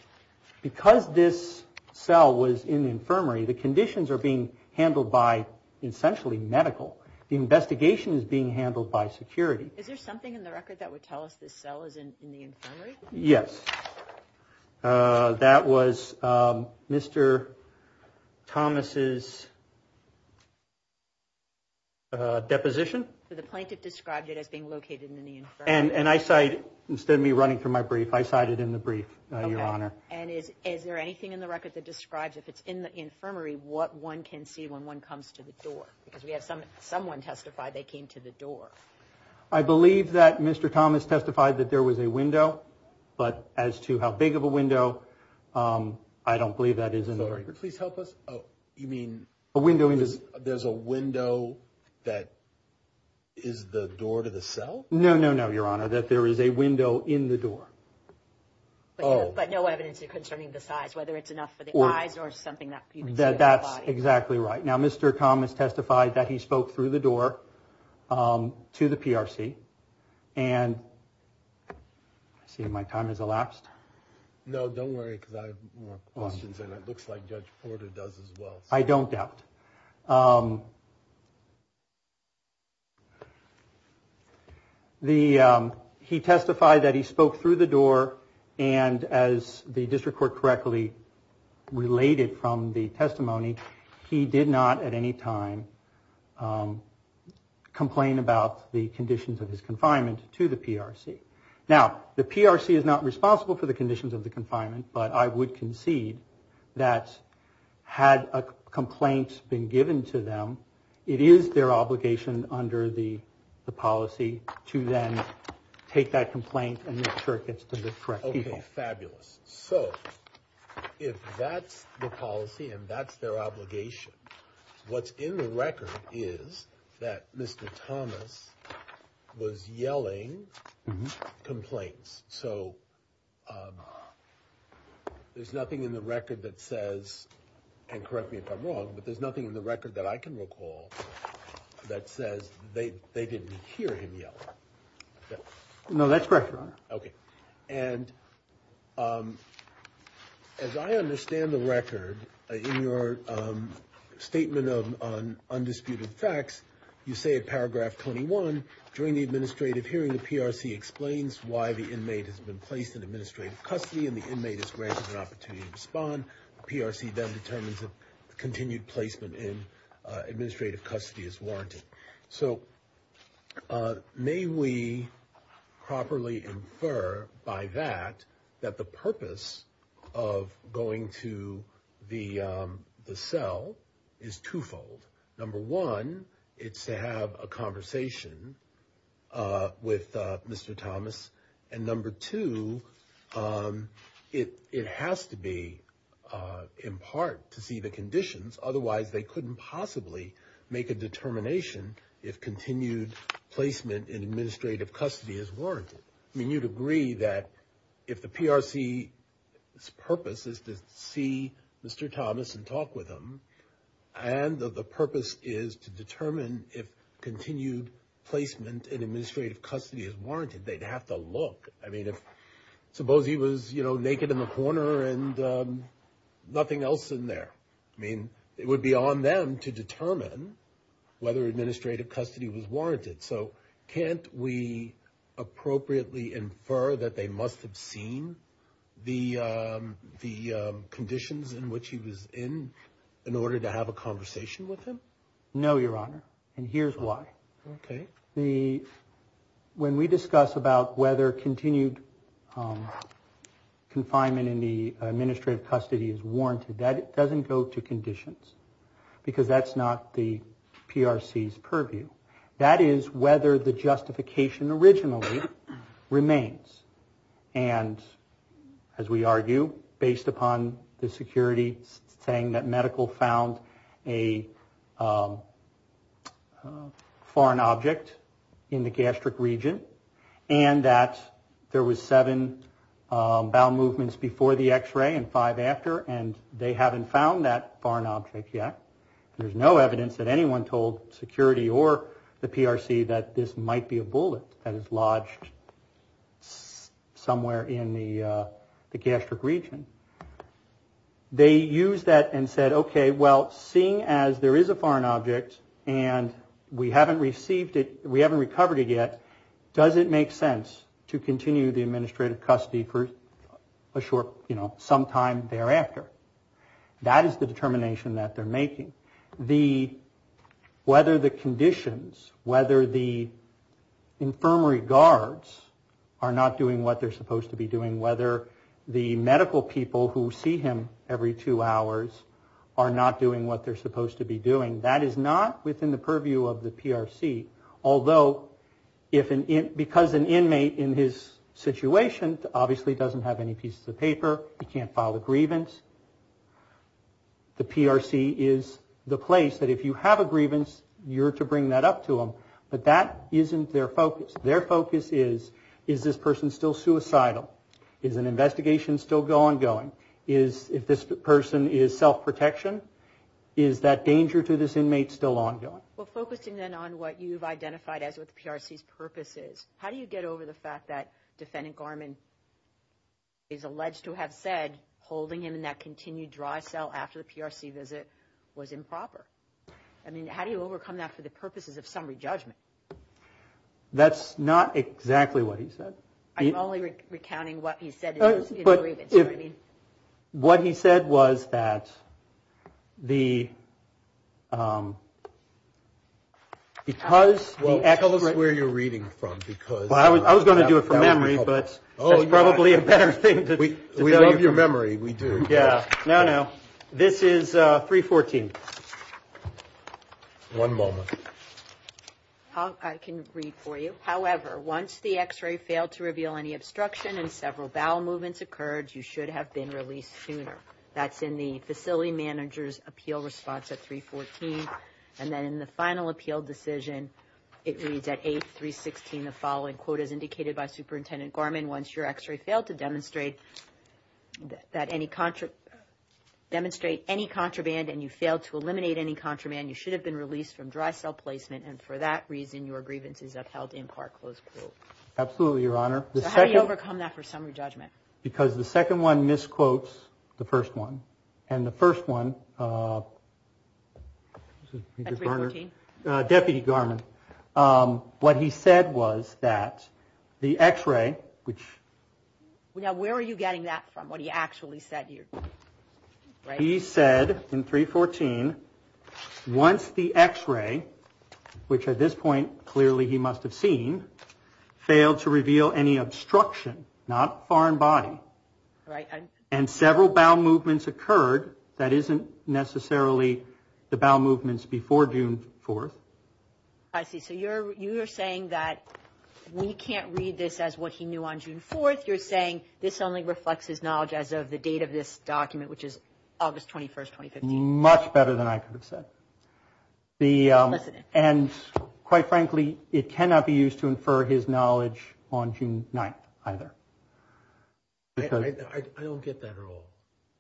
because this cell was in the infirmary, the conditions are being handled by essentially medical. The investigation is being handled by security. Is there something in the record that would tell us this cell is in the infirmary? Yes. That was Mr. Thomas's deposition. So the plaintiff described it as being located in the infirmary. And I cite, instead of me running through my brief, I cite it in the brief, Your Honor. Okay, and is there anything in the record that describes, if it's in the infirmary, what one can see when one comes to the door? Because we had someone testify they came to the door. I believe that Mr. Thomas testified that there was a window, but as to how big of a window, I don't believe that is in the record. Please help us. You mean there's a window that is the door to the cell? No, no, no, Your Honor, that there is a window in the door. But no evidence concerning the size, whether it's enough for the eyes or something. That's exactly right. Now, Mr. Thomas testified that he spoke through the door to the PRC. And I see my time has elapsed. No, don't worry, because I have more questions, and it looks like Judge Porter does as well. I don't doubt. He testified that he spoke through the door, and as the district court correctly related from the testimony, he did not at any time complain about the conditions of his confinement to the PRC. Now, the PRC is not responsible for the conditions of the confinement, but I would concede that had a complaint been given to them, it is their obligation under the policy to then take that complaint and make sure it gets to the correct people. Okay, fabulous. So if that's the policy and that's their obligation, what's in the record is that Mr. Thomas was yelling complaints. So there's nothing in the record that says, and correct me if I'm wrong, but there's nothing in the record that I can recall that says they didn't hear him yell. No, that's correct, Your Honor. Okay. And as I understand the record, in your statement on undisputed facts, you say in Paragraph 21, during the administrative hearing, the PRC explains why the inmate has been placed in administrative custody and the inmate is granted an opportunity to respond. The PRC then determines that continued placement in administrative custody is warranted. So may we properly infer by that that the purpose of going to the cell is twofold. Number one, it's to have a conversation with Mr. Thomas, and number two, it has to be in part to see the conditions, otherwise they couldn't possibly make a determination if continued placement in administrative custody is warranted. I mean, you'd agree that if the PRC's purpose is to see Mr. Thomas and talk with him and the purpose is to determine if continued placement in administrative custody is warranted, they'd have to look. I mean, suppose he was naked in the corner and nothing else in there. I mean, it would be on them to determine whether administrative custody was warranted. So can't we appropriately infer that they must have seen the conditions in which he was in in order to have a conversation with him? No, Your Honor, and here's why. Okay. When we discuss about whether continued confinement in the administrative custody is warranted, that doesn't go to conditions because that's not the PRC's purview. That is whether the justification originally remains and, as we argue, based upon the security saying that medical found a foreign object in the gastric region and that there was seven bowel movements before the x-ray and five after and they haven't found that foreign object yet. There's no evidence that anyone told security or the PRC that this might be a bullet that is lodged somewhere in the gastric region. They used that and said, okay, well, seeing as there is a foreign object and we haven't received it, we haven't recovered it yet, does it make sense to continue the administrative custody for a short, you know, sometime thereafter? That is the determination that they're making. Whether the conditions, whether the infirmary guards are not doing what they're supposed to be doing, whether the medical people who see him every two hours are not doing what they're supposed to be doing, that is not within the purview of the PRC. Although, because an inmate in his situation obviously doesn't have any pieces of paper, he can't file a grievance, the PRC is the place that if you have a grievance, you're to bring that up to him. But that isn't their focus. Their focus is, is this person still suicidal? Is an investigation still ongoing? If this person is self-protection, is that danger to this inmate still ongoing? Well, focusing then on what you've identified as what the PRC's purpose is, how do you get over the fact that Defendant Garman is alleged to have said holding him in that continued dry cell after the PRC visit was improper? I mean, how do you overcome that for the purposes of summary judgment? That's not exactly what he said. I'm only recounting what he said in his grievance. What he said was that the, because the X- Well, tell us where you're reading from, because. I was going to do it from memory, but that's probably a better thing to tell you. We love your memory, we do. No, no, this is 314. One moment. I can read for you. However, once the X-ray failed to reveal any obstruction and several bowel movements occurred, you should have been released sooner. That's in the facility manager's appeal response at 314. And then in the final appeal decision, it reads at 8-316, the following quote is indicated by Superintendent Garman. Once your X-ray failed to demonstrate that any, demonstrate any contraband and you failed to eliminate any contraband, you should have been released from dry cell placement, and for that reason your grievances have held in part, close quote. Absolutely, Your Honor. So how do you overcome that for summary judgment? Because the second one misquotes the first one. And the first one, Deputy Garman. What he said was that the X-ray, which. Now, where are you getting that from, what he actually said here? He said in 314, once the X-ray, which at this point clearly he must have seen, failed to reveal any obstruction, not foreign body, and several bowel movements occurred, that isn't necessarily the bowel movements before June 4th. I see. So you're saying that we can't read this as what he knew on June 4th. I think you're saying this only reflects his knowledge as of the date of this document, which is August 21st, 2015. Much better than I could have said. And quite frankly, it cannot be used to infer his knowledge on June 9th either. I don't get that at all.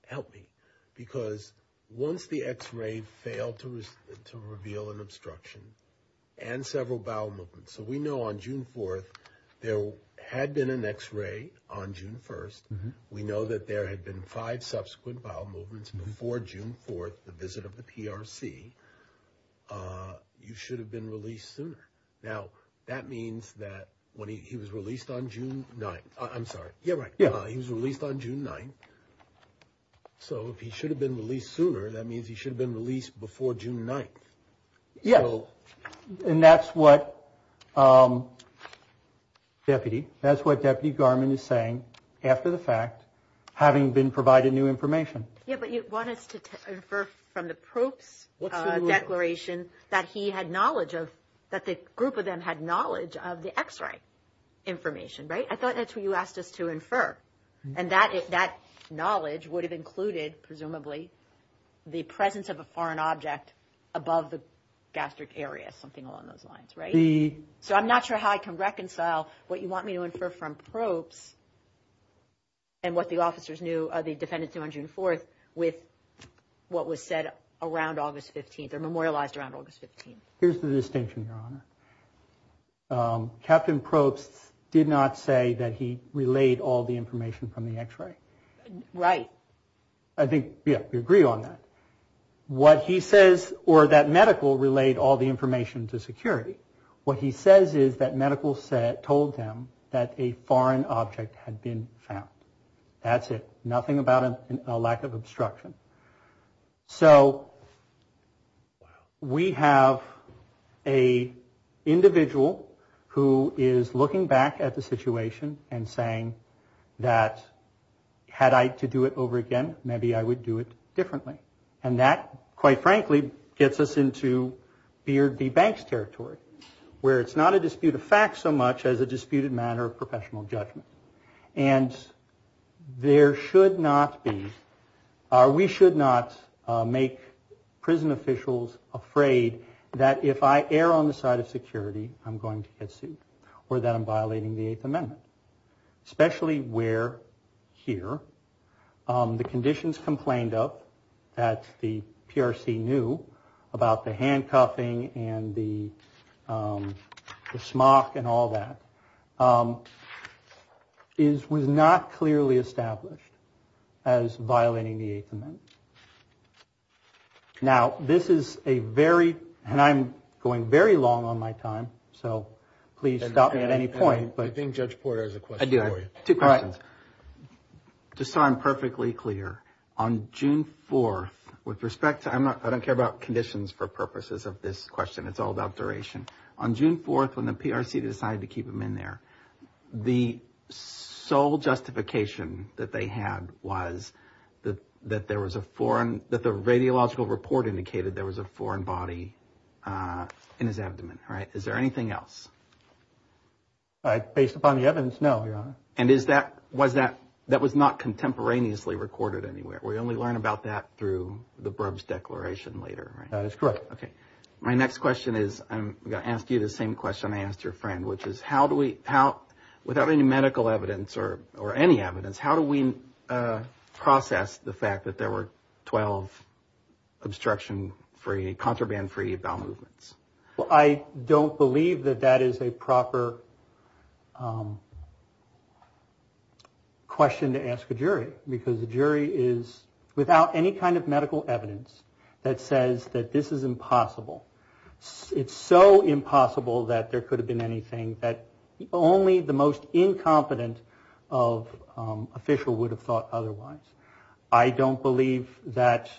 Help me. Because once the X-ray failed to reveal an obstruction and several bowel movements, so we know on June 4th there had been an X-ray on June 1st. We know that there had been five subsequent bowel movements before June 4th, the visit of the PRC. You should have been released sooner. Now, that means that when he was released on June 9th. I'm sorry. Yeah, right. He was released on June 9th. So if he should have been released sooner, that means he should have been released before June 9th. Yes. And that's what Deputy Garman is saying after the fact, having been provided new information. Yeah, but you want us to infer from the probe's declaration that he had knowledge of, that the group of them had knowledge of the X-ray information, right? I thought that's what you asked us to infer. And that knowledge would have included, presumably, the presence of a foreign object above the gastric area, something along those lines, right? So I'm not sure how I can reconcile what you want me to infer from probes and what the officers knew or the defendants knew on June 4th with what was said around August 15th or memorialized around August 15th. Here's the distinction, Your Honor. Captain Probst did not say that he relayed all the information from the X-ray. Right. I think, yeah, we agree on that. What he says, or that medical relayed all the information to security. What he says is that medical said, told them that a foreign object had been found. That's it. Nothing about a lack of obstruction. So we have an individual who is looking back at the situation and saying that, had I to do it over again, maybe I would do it differently. And that, quite frankly, gets us into Beard v. Banks territory, where it's not a dispute of fact so much as a disputed matter of professional judgment. And there should not be, we should not make prison officials afraid that if I err on the side of security, I'm going to get sued or that I'm violating the Eighth Amendment. Especially where, here, the conditions complained of that the PRC knew about the handcuffing and the smock and all that was not clearly established as violating the Eighth Amendment. Now, this is a very, and I'm going very long on my time, so please stop me at any point. I think Judge Porter has a question for you. I do. Two questions. Just so I'm perfectly clear, on June 4th, with respect to, I don't care about conditions for purposes of this question. It's all about duration. On June 4th, when the PRC decided to keep him in there, the sole justification that they had was that there was a foreign, that the radiological report indicated there was a foreign body in his abdomen, right? Is there anything else? Based upon the evidence, no, Your Honor. And is that, was that, that was not contemporaneously recorded anywhere? We only learn about that through the Burbs Declaration later, right? That is correct. Okay. My next question is, I'm going to ask you the same question I asked your friend, which is how do we, without any medical evidence or any evidence, how do we process the fact that there were 12 obstruction-free, contraband-free bowel movements? Well, I don't believe that that is a proper question to ask a jury because the jury is without any kind of medical evidence that says that this is impossible. It's so impossible that there could have been anything that only the most incompetent official would have thought otherwise. I don't believe that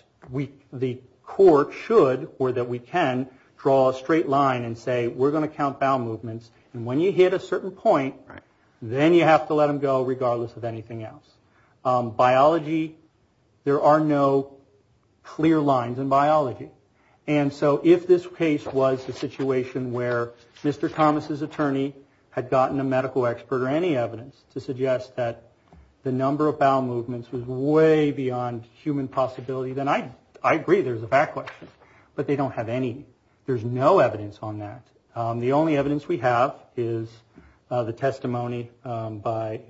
the court should or that we can draw a straight line and say, we're going to count bowel movements, and when you hit a certain point, then you have to let them go regardless of anything else. Biology, there are no clear lines in biology. And so if this case was a situation where Mr. Thomas's attorney had gotten a medical expert or any evidence to suggest that the number of bowel movements was way beyond human possibility, then I agree there's a fact question. But they don't have any, there's no evidence on that. The only evidence we have is the testimony by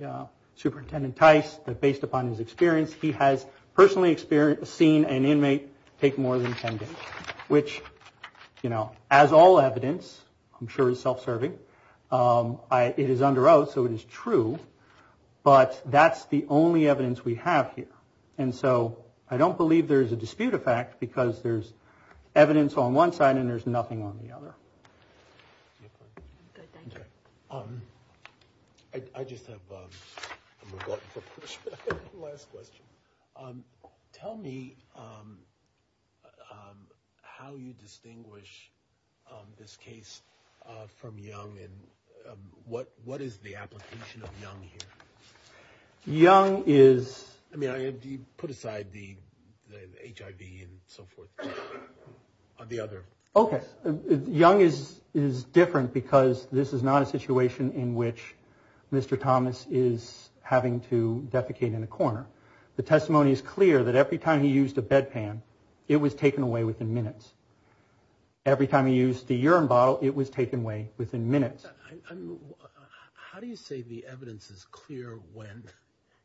Superintendent Tice that based upon his experience, he has personally seen an inmate take more than 10 days, which, you know, as all evidence, I'm sure is self-serving. It is under oath, so it is true. But that's the only evidence we have here. And so I don't believe there is a dispute of fact because there's evidence on one side and there's nothing on the other. I just have one last question. Tell me how you distinguish this case from Young and what is the application of Young here? You put aside the HIV and so forth on the other. Okay, Young is different because this is not a situation in which Mr. Thomas is having to defecate in a corner. The testimony is clear that every time he used a bedpan, it was taken away within minutes. Every time he used the urine bottle, it was taken away within minutes. How do you say the evidence is clear when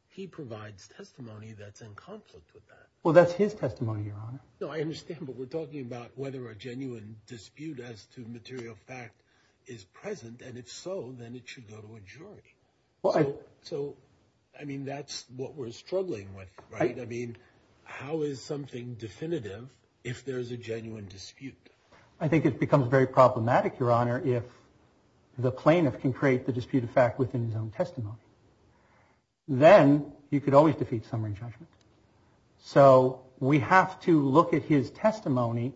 he provides testimony that's in conflict with that? Well, that's his testimony, Your Honor. No, I understand, but we're talking about whether a genuine dispute as to material fact is present, and if so, then it should go to a jury. So, I mean, that's what we're struggling with, right? I mean, how is something definitive if there's a genuine dispute? I think it becomes very problematic, Your Honor, if the plaintiff can create the dispute of fact within his own testimony. Then you could always defeat summary judgment. So we have to look at his testimony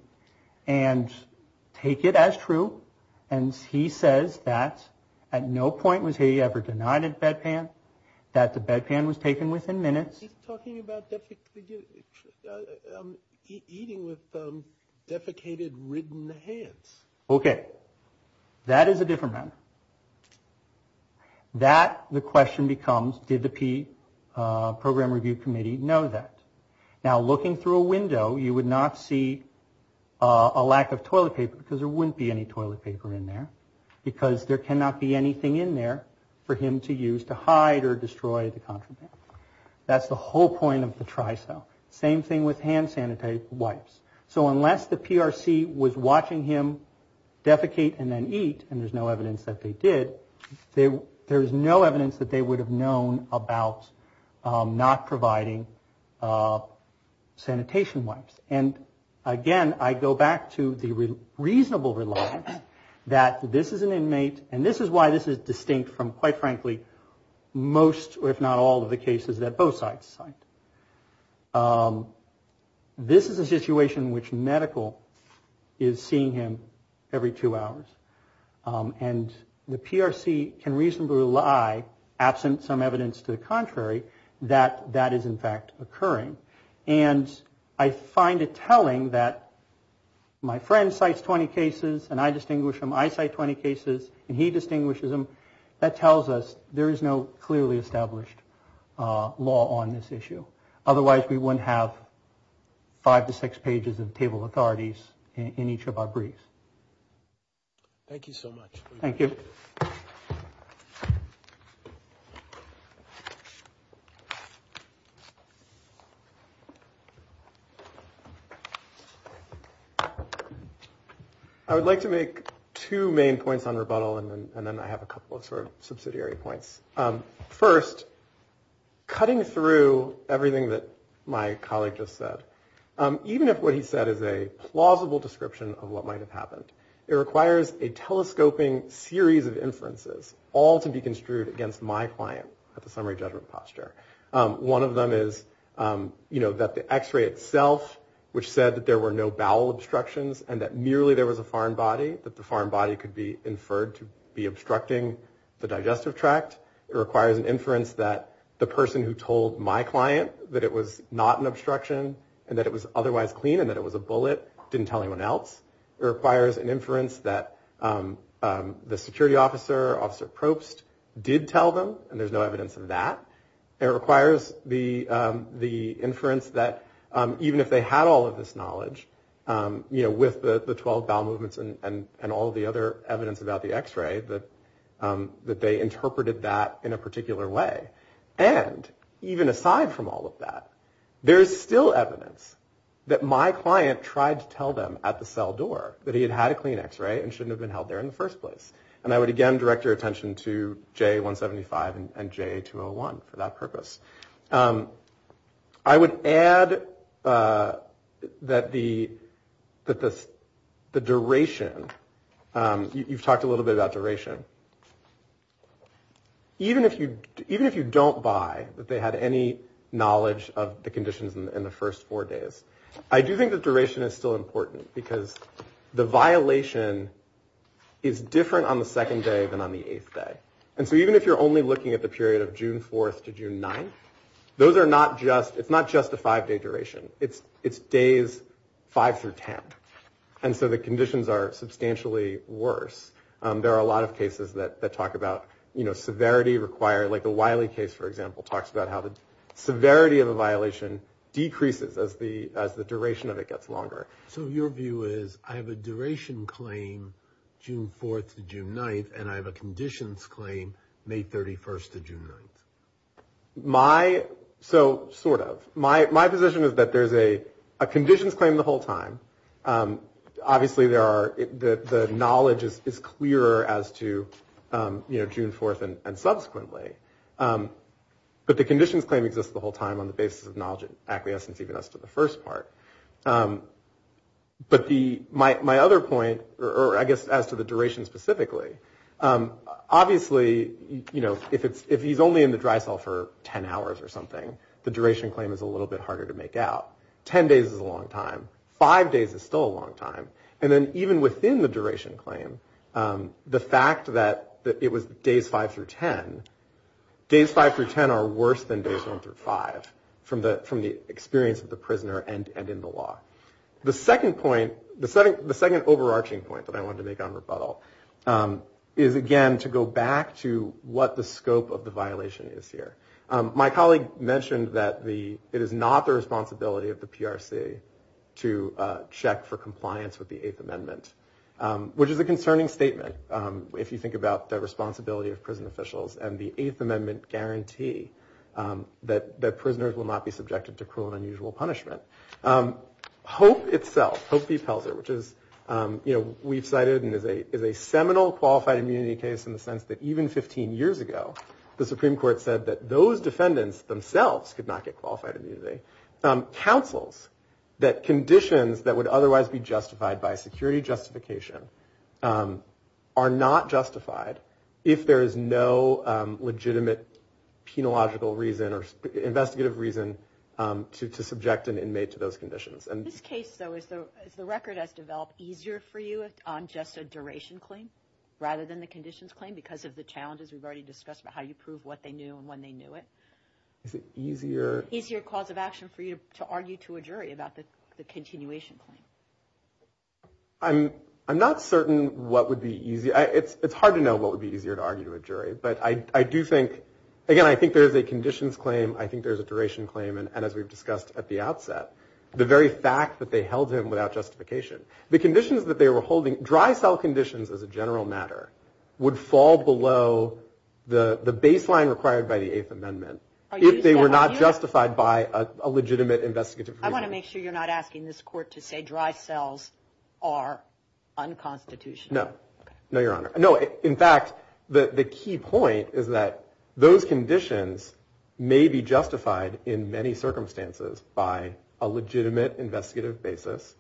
and take it as true, and he says that at no point was he ever denied a bedpan, that the bedpan was taken within minutes. He's talking about eating with defecated, ridden hands. Okay, that is a different matter. That, the question becomes, did the P Program Review Committee know that? Now, looking through a window, you would not see a lack of toilet paper, because there wouldn't be any toilet paper in there, because there cannot be anything in there for him to use to hide or destroy the contraband. That's the whole point of the tri-cell. Same thing with hand-sanitized wipes. So unless the PRC was watching him defecate and then eat, and there's no evidence that they did, there's no evidence that they would have known about not providing sanitation wipes. And, again, I go back to the reasonable reliance that this is an inmate, and this is why this is distinct from, quite frankly, most, if not all, of the cases that both sides cite. This is a situation in which medical is seeing him every two hours, and the PRC can reasonably rely, absent some evidence to the contrary, that that is, in fact, occurring. And I find it telling that my friend cites 20 cases, and I distinguish them. I cite 20 cases, and he distinguishes them. That tells us there is no clearly established law on this issue. Otherwise, we wouldn't have five to six pages of table authorities in each of our briefs. Thank you so much. Thank you. I would like to make two main points on rebuttal, and then I have a couple of sort of subsidiary points. First, cutting through everything that my colleague just said, even if what he said is a plausible description of what might have happened, it requires a telescoping series of inferences, all to be construed against my client at the summary judgment posture. One of them is, you know, that the X-ray itself, which said that there were no bowel obstructions, and that merely there was a foreign body, that the foreign body could be inferred to be obstructing the digestive tract. It requires an inference that the person who told my client that it was not an obstruction, and that it was otherwise clean, and that it was a bullet, didn't tell anyone else. It requires an inference that the security officer, Officer Probst, did tell them, and there's no evidence of that. It requires the inference that even if they had all of this knowledge, you know, with the 12 bowel movements and all of the other evidence about the X-ray, that they interpreted that in a particular way. And even aside from all of that, there's still evidence that my client tried to tell them at the cell door that he had had a clean X-ray and shouldn't have been held there in the first place. And I would again direct your attention to JA-175 and JA-201 for that purpose. I would add that the duration, you've talked a little bit about duration. Even if you don't buy that they had any knowledge of the conditions in the first four days, I do think that duration is still important, because the violation is different on the second day than on the eighth day. And so even if you're only looking at the period of June 4th to June 9th, those are not just, it's not just a five-day duration, it's days five through ten. And so the conditions are substantially worse. There are a lot of cases that talk about, you know, severity required, like the Wiley case, for example, talks about how the severity of a violation decreases as the duration of it gets longer. So your view is I have a duration claim June 4th to June 9th, and I have a conditions claim May 31st to June 9th? My, so sort of. My position is that there's a conditions claim the whole time. Obviously there are, the knowledge is clearer as to, you know, June 4th and subsequently. But the conditions claim exists the whole time on the basis of knowledge and acquiescence even as to the first part. But my other point, or I guess as to the duration specifically, obviously, you know, if he's only in the dry cell for ten hours or something, the duration claim is a little bit harder to make out. Ten days is a long time. Five days is still a long time. And then even within the duration claim, the fact that it was days five through ten, days five through ten are worse than days one through five from the experience of the prisoner and in the law. The second point, the second overarching point that I wanted to make on rebuttal is, again, to go back to what the scope of the violation is here. My colleague mentioned that it is not the responsibility of the PRC to check for compliance with the Eighth Amendment, which is a concerning statement if you think about the responsibility of prison officials and the Eighth Amendment guarantee that prisoners will not be subjected to cruel and unusual punishment. Hope itself, Hope v. Pelzer, which is, you know, we've cited and is a seminal qualified immunity case in the sense that even 15 years ago, the Supreme Court said that those defendants themselves could not get qualified immunity. Councils that conditions that would otherwise be justified by security justification are not justified if there is no legitimate penological reason or investigative reason to subject an inmate to those conditions. And this case, though, is the record has developed easier for you on just a duration claim rather than the conditions claim, because of the challenges we've already discussed about how you prove what they knew and when they knew it. Is it easier? Easier cause of action for you to argue to a jury about the continuation claim? I'm not certain what would be easy. It's hard to know what would be easier to argue to a jury. But I do think, again, I think there is a conditions claim. I think there's a duration claim. And as we've discussed at the outset, the very fact that they held him without justification, the conditions that they were holding, dry cell conditions as a general matter, would fall below the baseline required by the Eighth Amendment. If they were not justified by a legitimate investigative. I want to make sure you're not asking this court to say dry cells are unconstitutional. No, no, Your Honor. No. In fact, the key point is that those conditions may be justified in many circumstances. By a legitimate investigative basis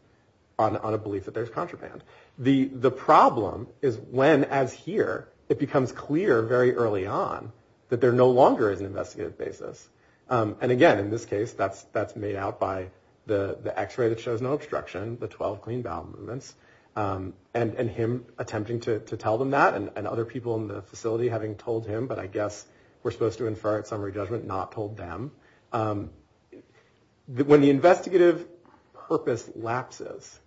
on a belief that there's contraband. The problem is when, as here, it becomes clear very early on that there no longer is an investigative basis. And again, in this case, that's that's made out by the x-ray that shows no obstruction. The 12 clean bowel movements and him attempting to tell them that and other people in the facility having told him. But I guess we're supposed to infer it summary judgment, not told them that when the investigative purpose lapses,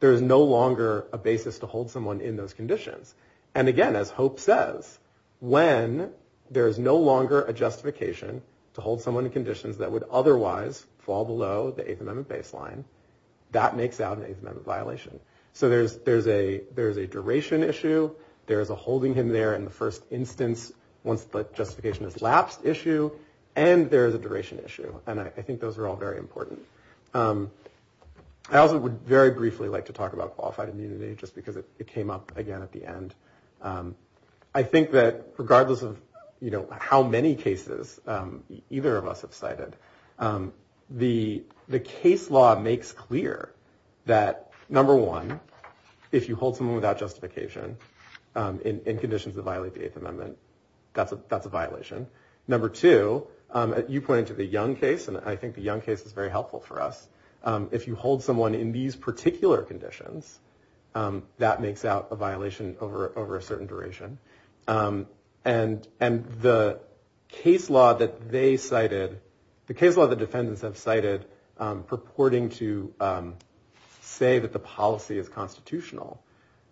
there is no longer a basis to hold someone in those conditions. And again, as Hope says, when there is no longer a justification to hold someone in conditions that would otherwise fall below the Eighth Amendment baseline, that makes out an Eighth Amendment violation. So there's there's a there's a duration issue. There is a holding him there in the first instance once the justification is lapsed issue. And there is a duration issue. And I think those are all very important. I also would very briefly like to talk about qualified immunity just because it came up again at the end. I think that regardless of, you know, how many cases either of us have cited, the the case law makes clear that, number one, if you hold someone without justification in conditions that violate the Eighth Amendment, that's a that's a violation. Number two, you pointed to the young case, and I think the young case is very helpful for us. If you hold someone in these particular conditions, that makes out a violation over over a certain duration. And and the case law that they cited, the case law, the defendants have cited purporting to say that the policy is constitutional.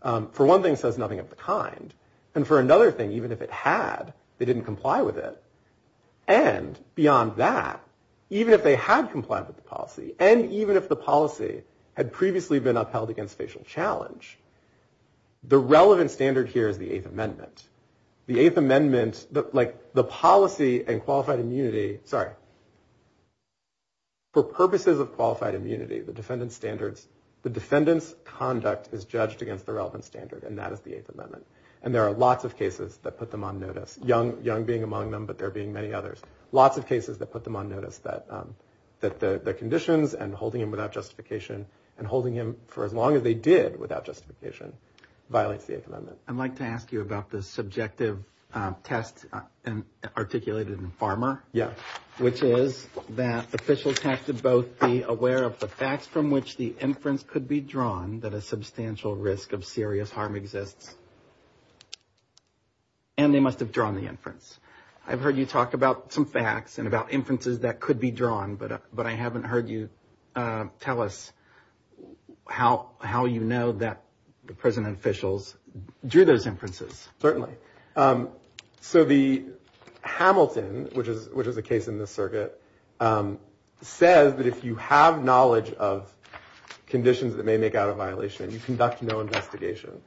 For one thing, says nothing of the kind. And for another thing, even if it had, they didn't comply with it. And beyond that, even if they had complied with the policy and even if the policy had previously been upheld against facial challenge, the relevant standard here is the Eighth Amendment. The Eighth Amendment, like the policy and qualified immunity. Sorry. For purposes of qualified immunity, the defendant standards, the defendant's conduct is judged against the relevant standard. And that is the Eighth Amendment. And there are lots of cases that put them on notice. Young young being among them, but there being many others, lots of cases that put them on notice that that the conditions and holding him without justification and holding him for as long as they did without justification violates the Eighth Amendment. I'd like to ask you about the subjective test and articulated in Farmer. Yeah. Which is that officials have to both be aware of the facts from which the inference could be drawn that a substantial risk of serious harm exists. And they must have drawn the inference. I've heard you talk about some facts and about inferences that could be drawn. But but I haven't heard you tell us how how you know that the present officials drew those inferences. Certainly. So the Hamilton, which is which is a case in the circuit, says that if you have knowledge of conditions that may make out of violation, you conduct no investigation.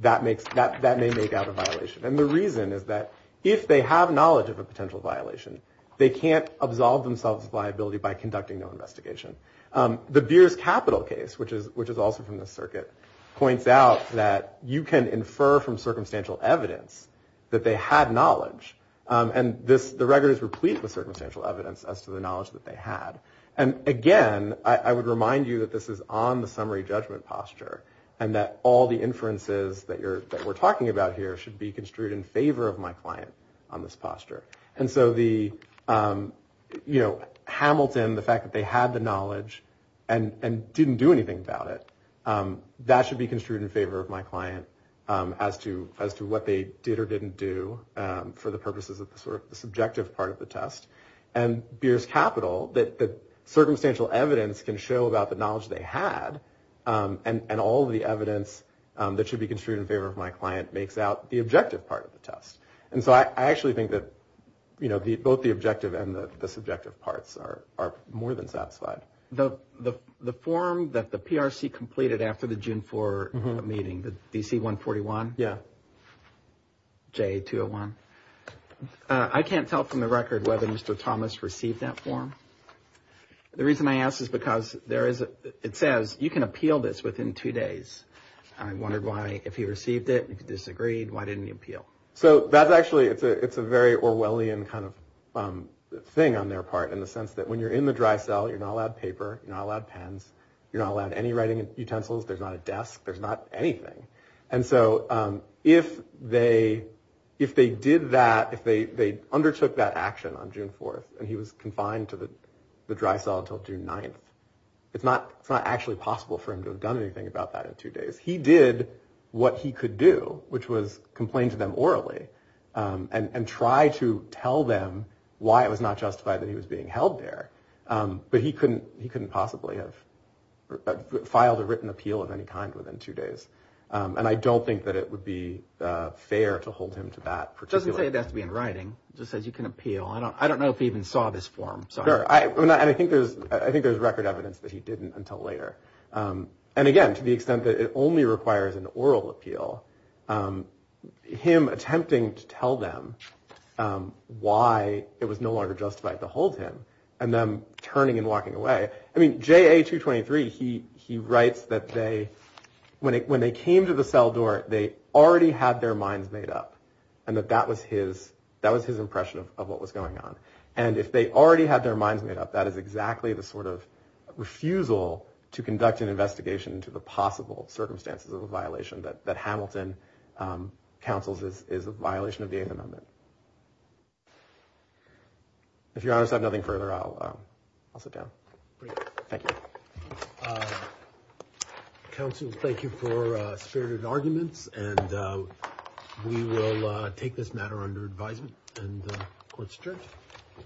That makes that that may make out of violation. And the reason is that if they have knowledge of a potential violation, they can't absolve themselves of liability by conducting no investigation. The beers capital case, which is which is also from the circuit, points out that you can infer from circumstantial evidence that they had knowledge. And this the record is replete with circumstantial evidence as to the knowledge that they had. And again, I would remind you that this is on the summary judgment posture and that all the inferences that you're that we're talking about here should be construed in favor of my client on this posture. And so the, you know, Hamilton, the fact that they had the knowledge and didn't do anything about it, that should be construed in favor of my client as to as to what they did or didn't do. For the purposes of the subjective part of the test and beers capital, that the circumstantial evidence can show about the knowledge they had and all the evidence that should be construed in favor of my client makes out the objective part of the test. And so I actually think that, you know, both the objective and the subjective parts are are more than satisfied. The the the form that the PRC completed after the June 4 meeting, the D.C. one forty one. Yeah. Jay to one. I can't tell from the record whether Mr. Thomas received that form. The reason I ask is because there is it says you can appeal this within two days. I wondered why. If he received it, he disagreed. Why didn't you appeal? So that's actually it's a it's a very Orwellian kind of thing on their part in the sense that when you're in the dry cell, you're not allowed paper, not allowed pens. You're not allowed any writing utensils. There's not a desk. There's not anything. And so if they if they did that, if they undertook that action on June 4th and he was confined to the dry cell until June 9th, it's not it's not actually possible for him to have done anything about that in two days. He did what he could do, which was complain to them orally and try to tell them why it was not justified that he was being held there. But he couldn't he couldn't possibly have filed a written appeal of any kind within two days. And I don't think that it would be fair to hold him to that. Doesn't say it has to be in writing, just says you can appeal. I don't I don't know if he even saw this form. So I mean, I think there's I think there's record evidence that he didn't until later. And again, to the extent that it only requires an oral appeal, him attempting to tell them why it was no longer justified to hold him and then turning and walking away. I mean, J.A. 223, he he writes that they when they when they came to the cell door, they already had their minds made up and that that was his that was his impression of what was going on. And if they already had their minds made up, that is exactly the sort of refusal to conduct an investigation into the possible circumstances of a violation that that Hamilton counsels is is a violation of the eighth amendment. If you have nothing further, I'll I'll sit down. Thank you. Counsel, thank you for spirited arguments and we will take this matter under advisement and question. Thank you. Thank you. Thank you.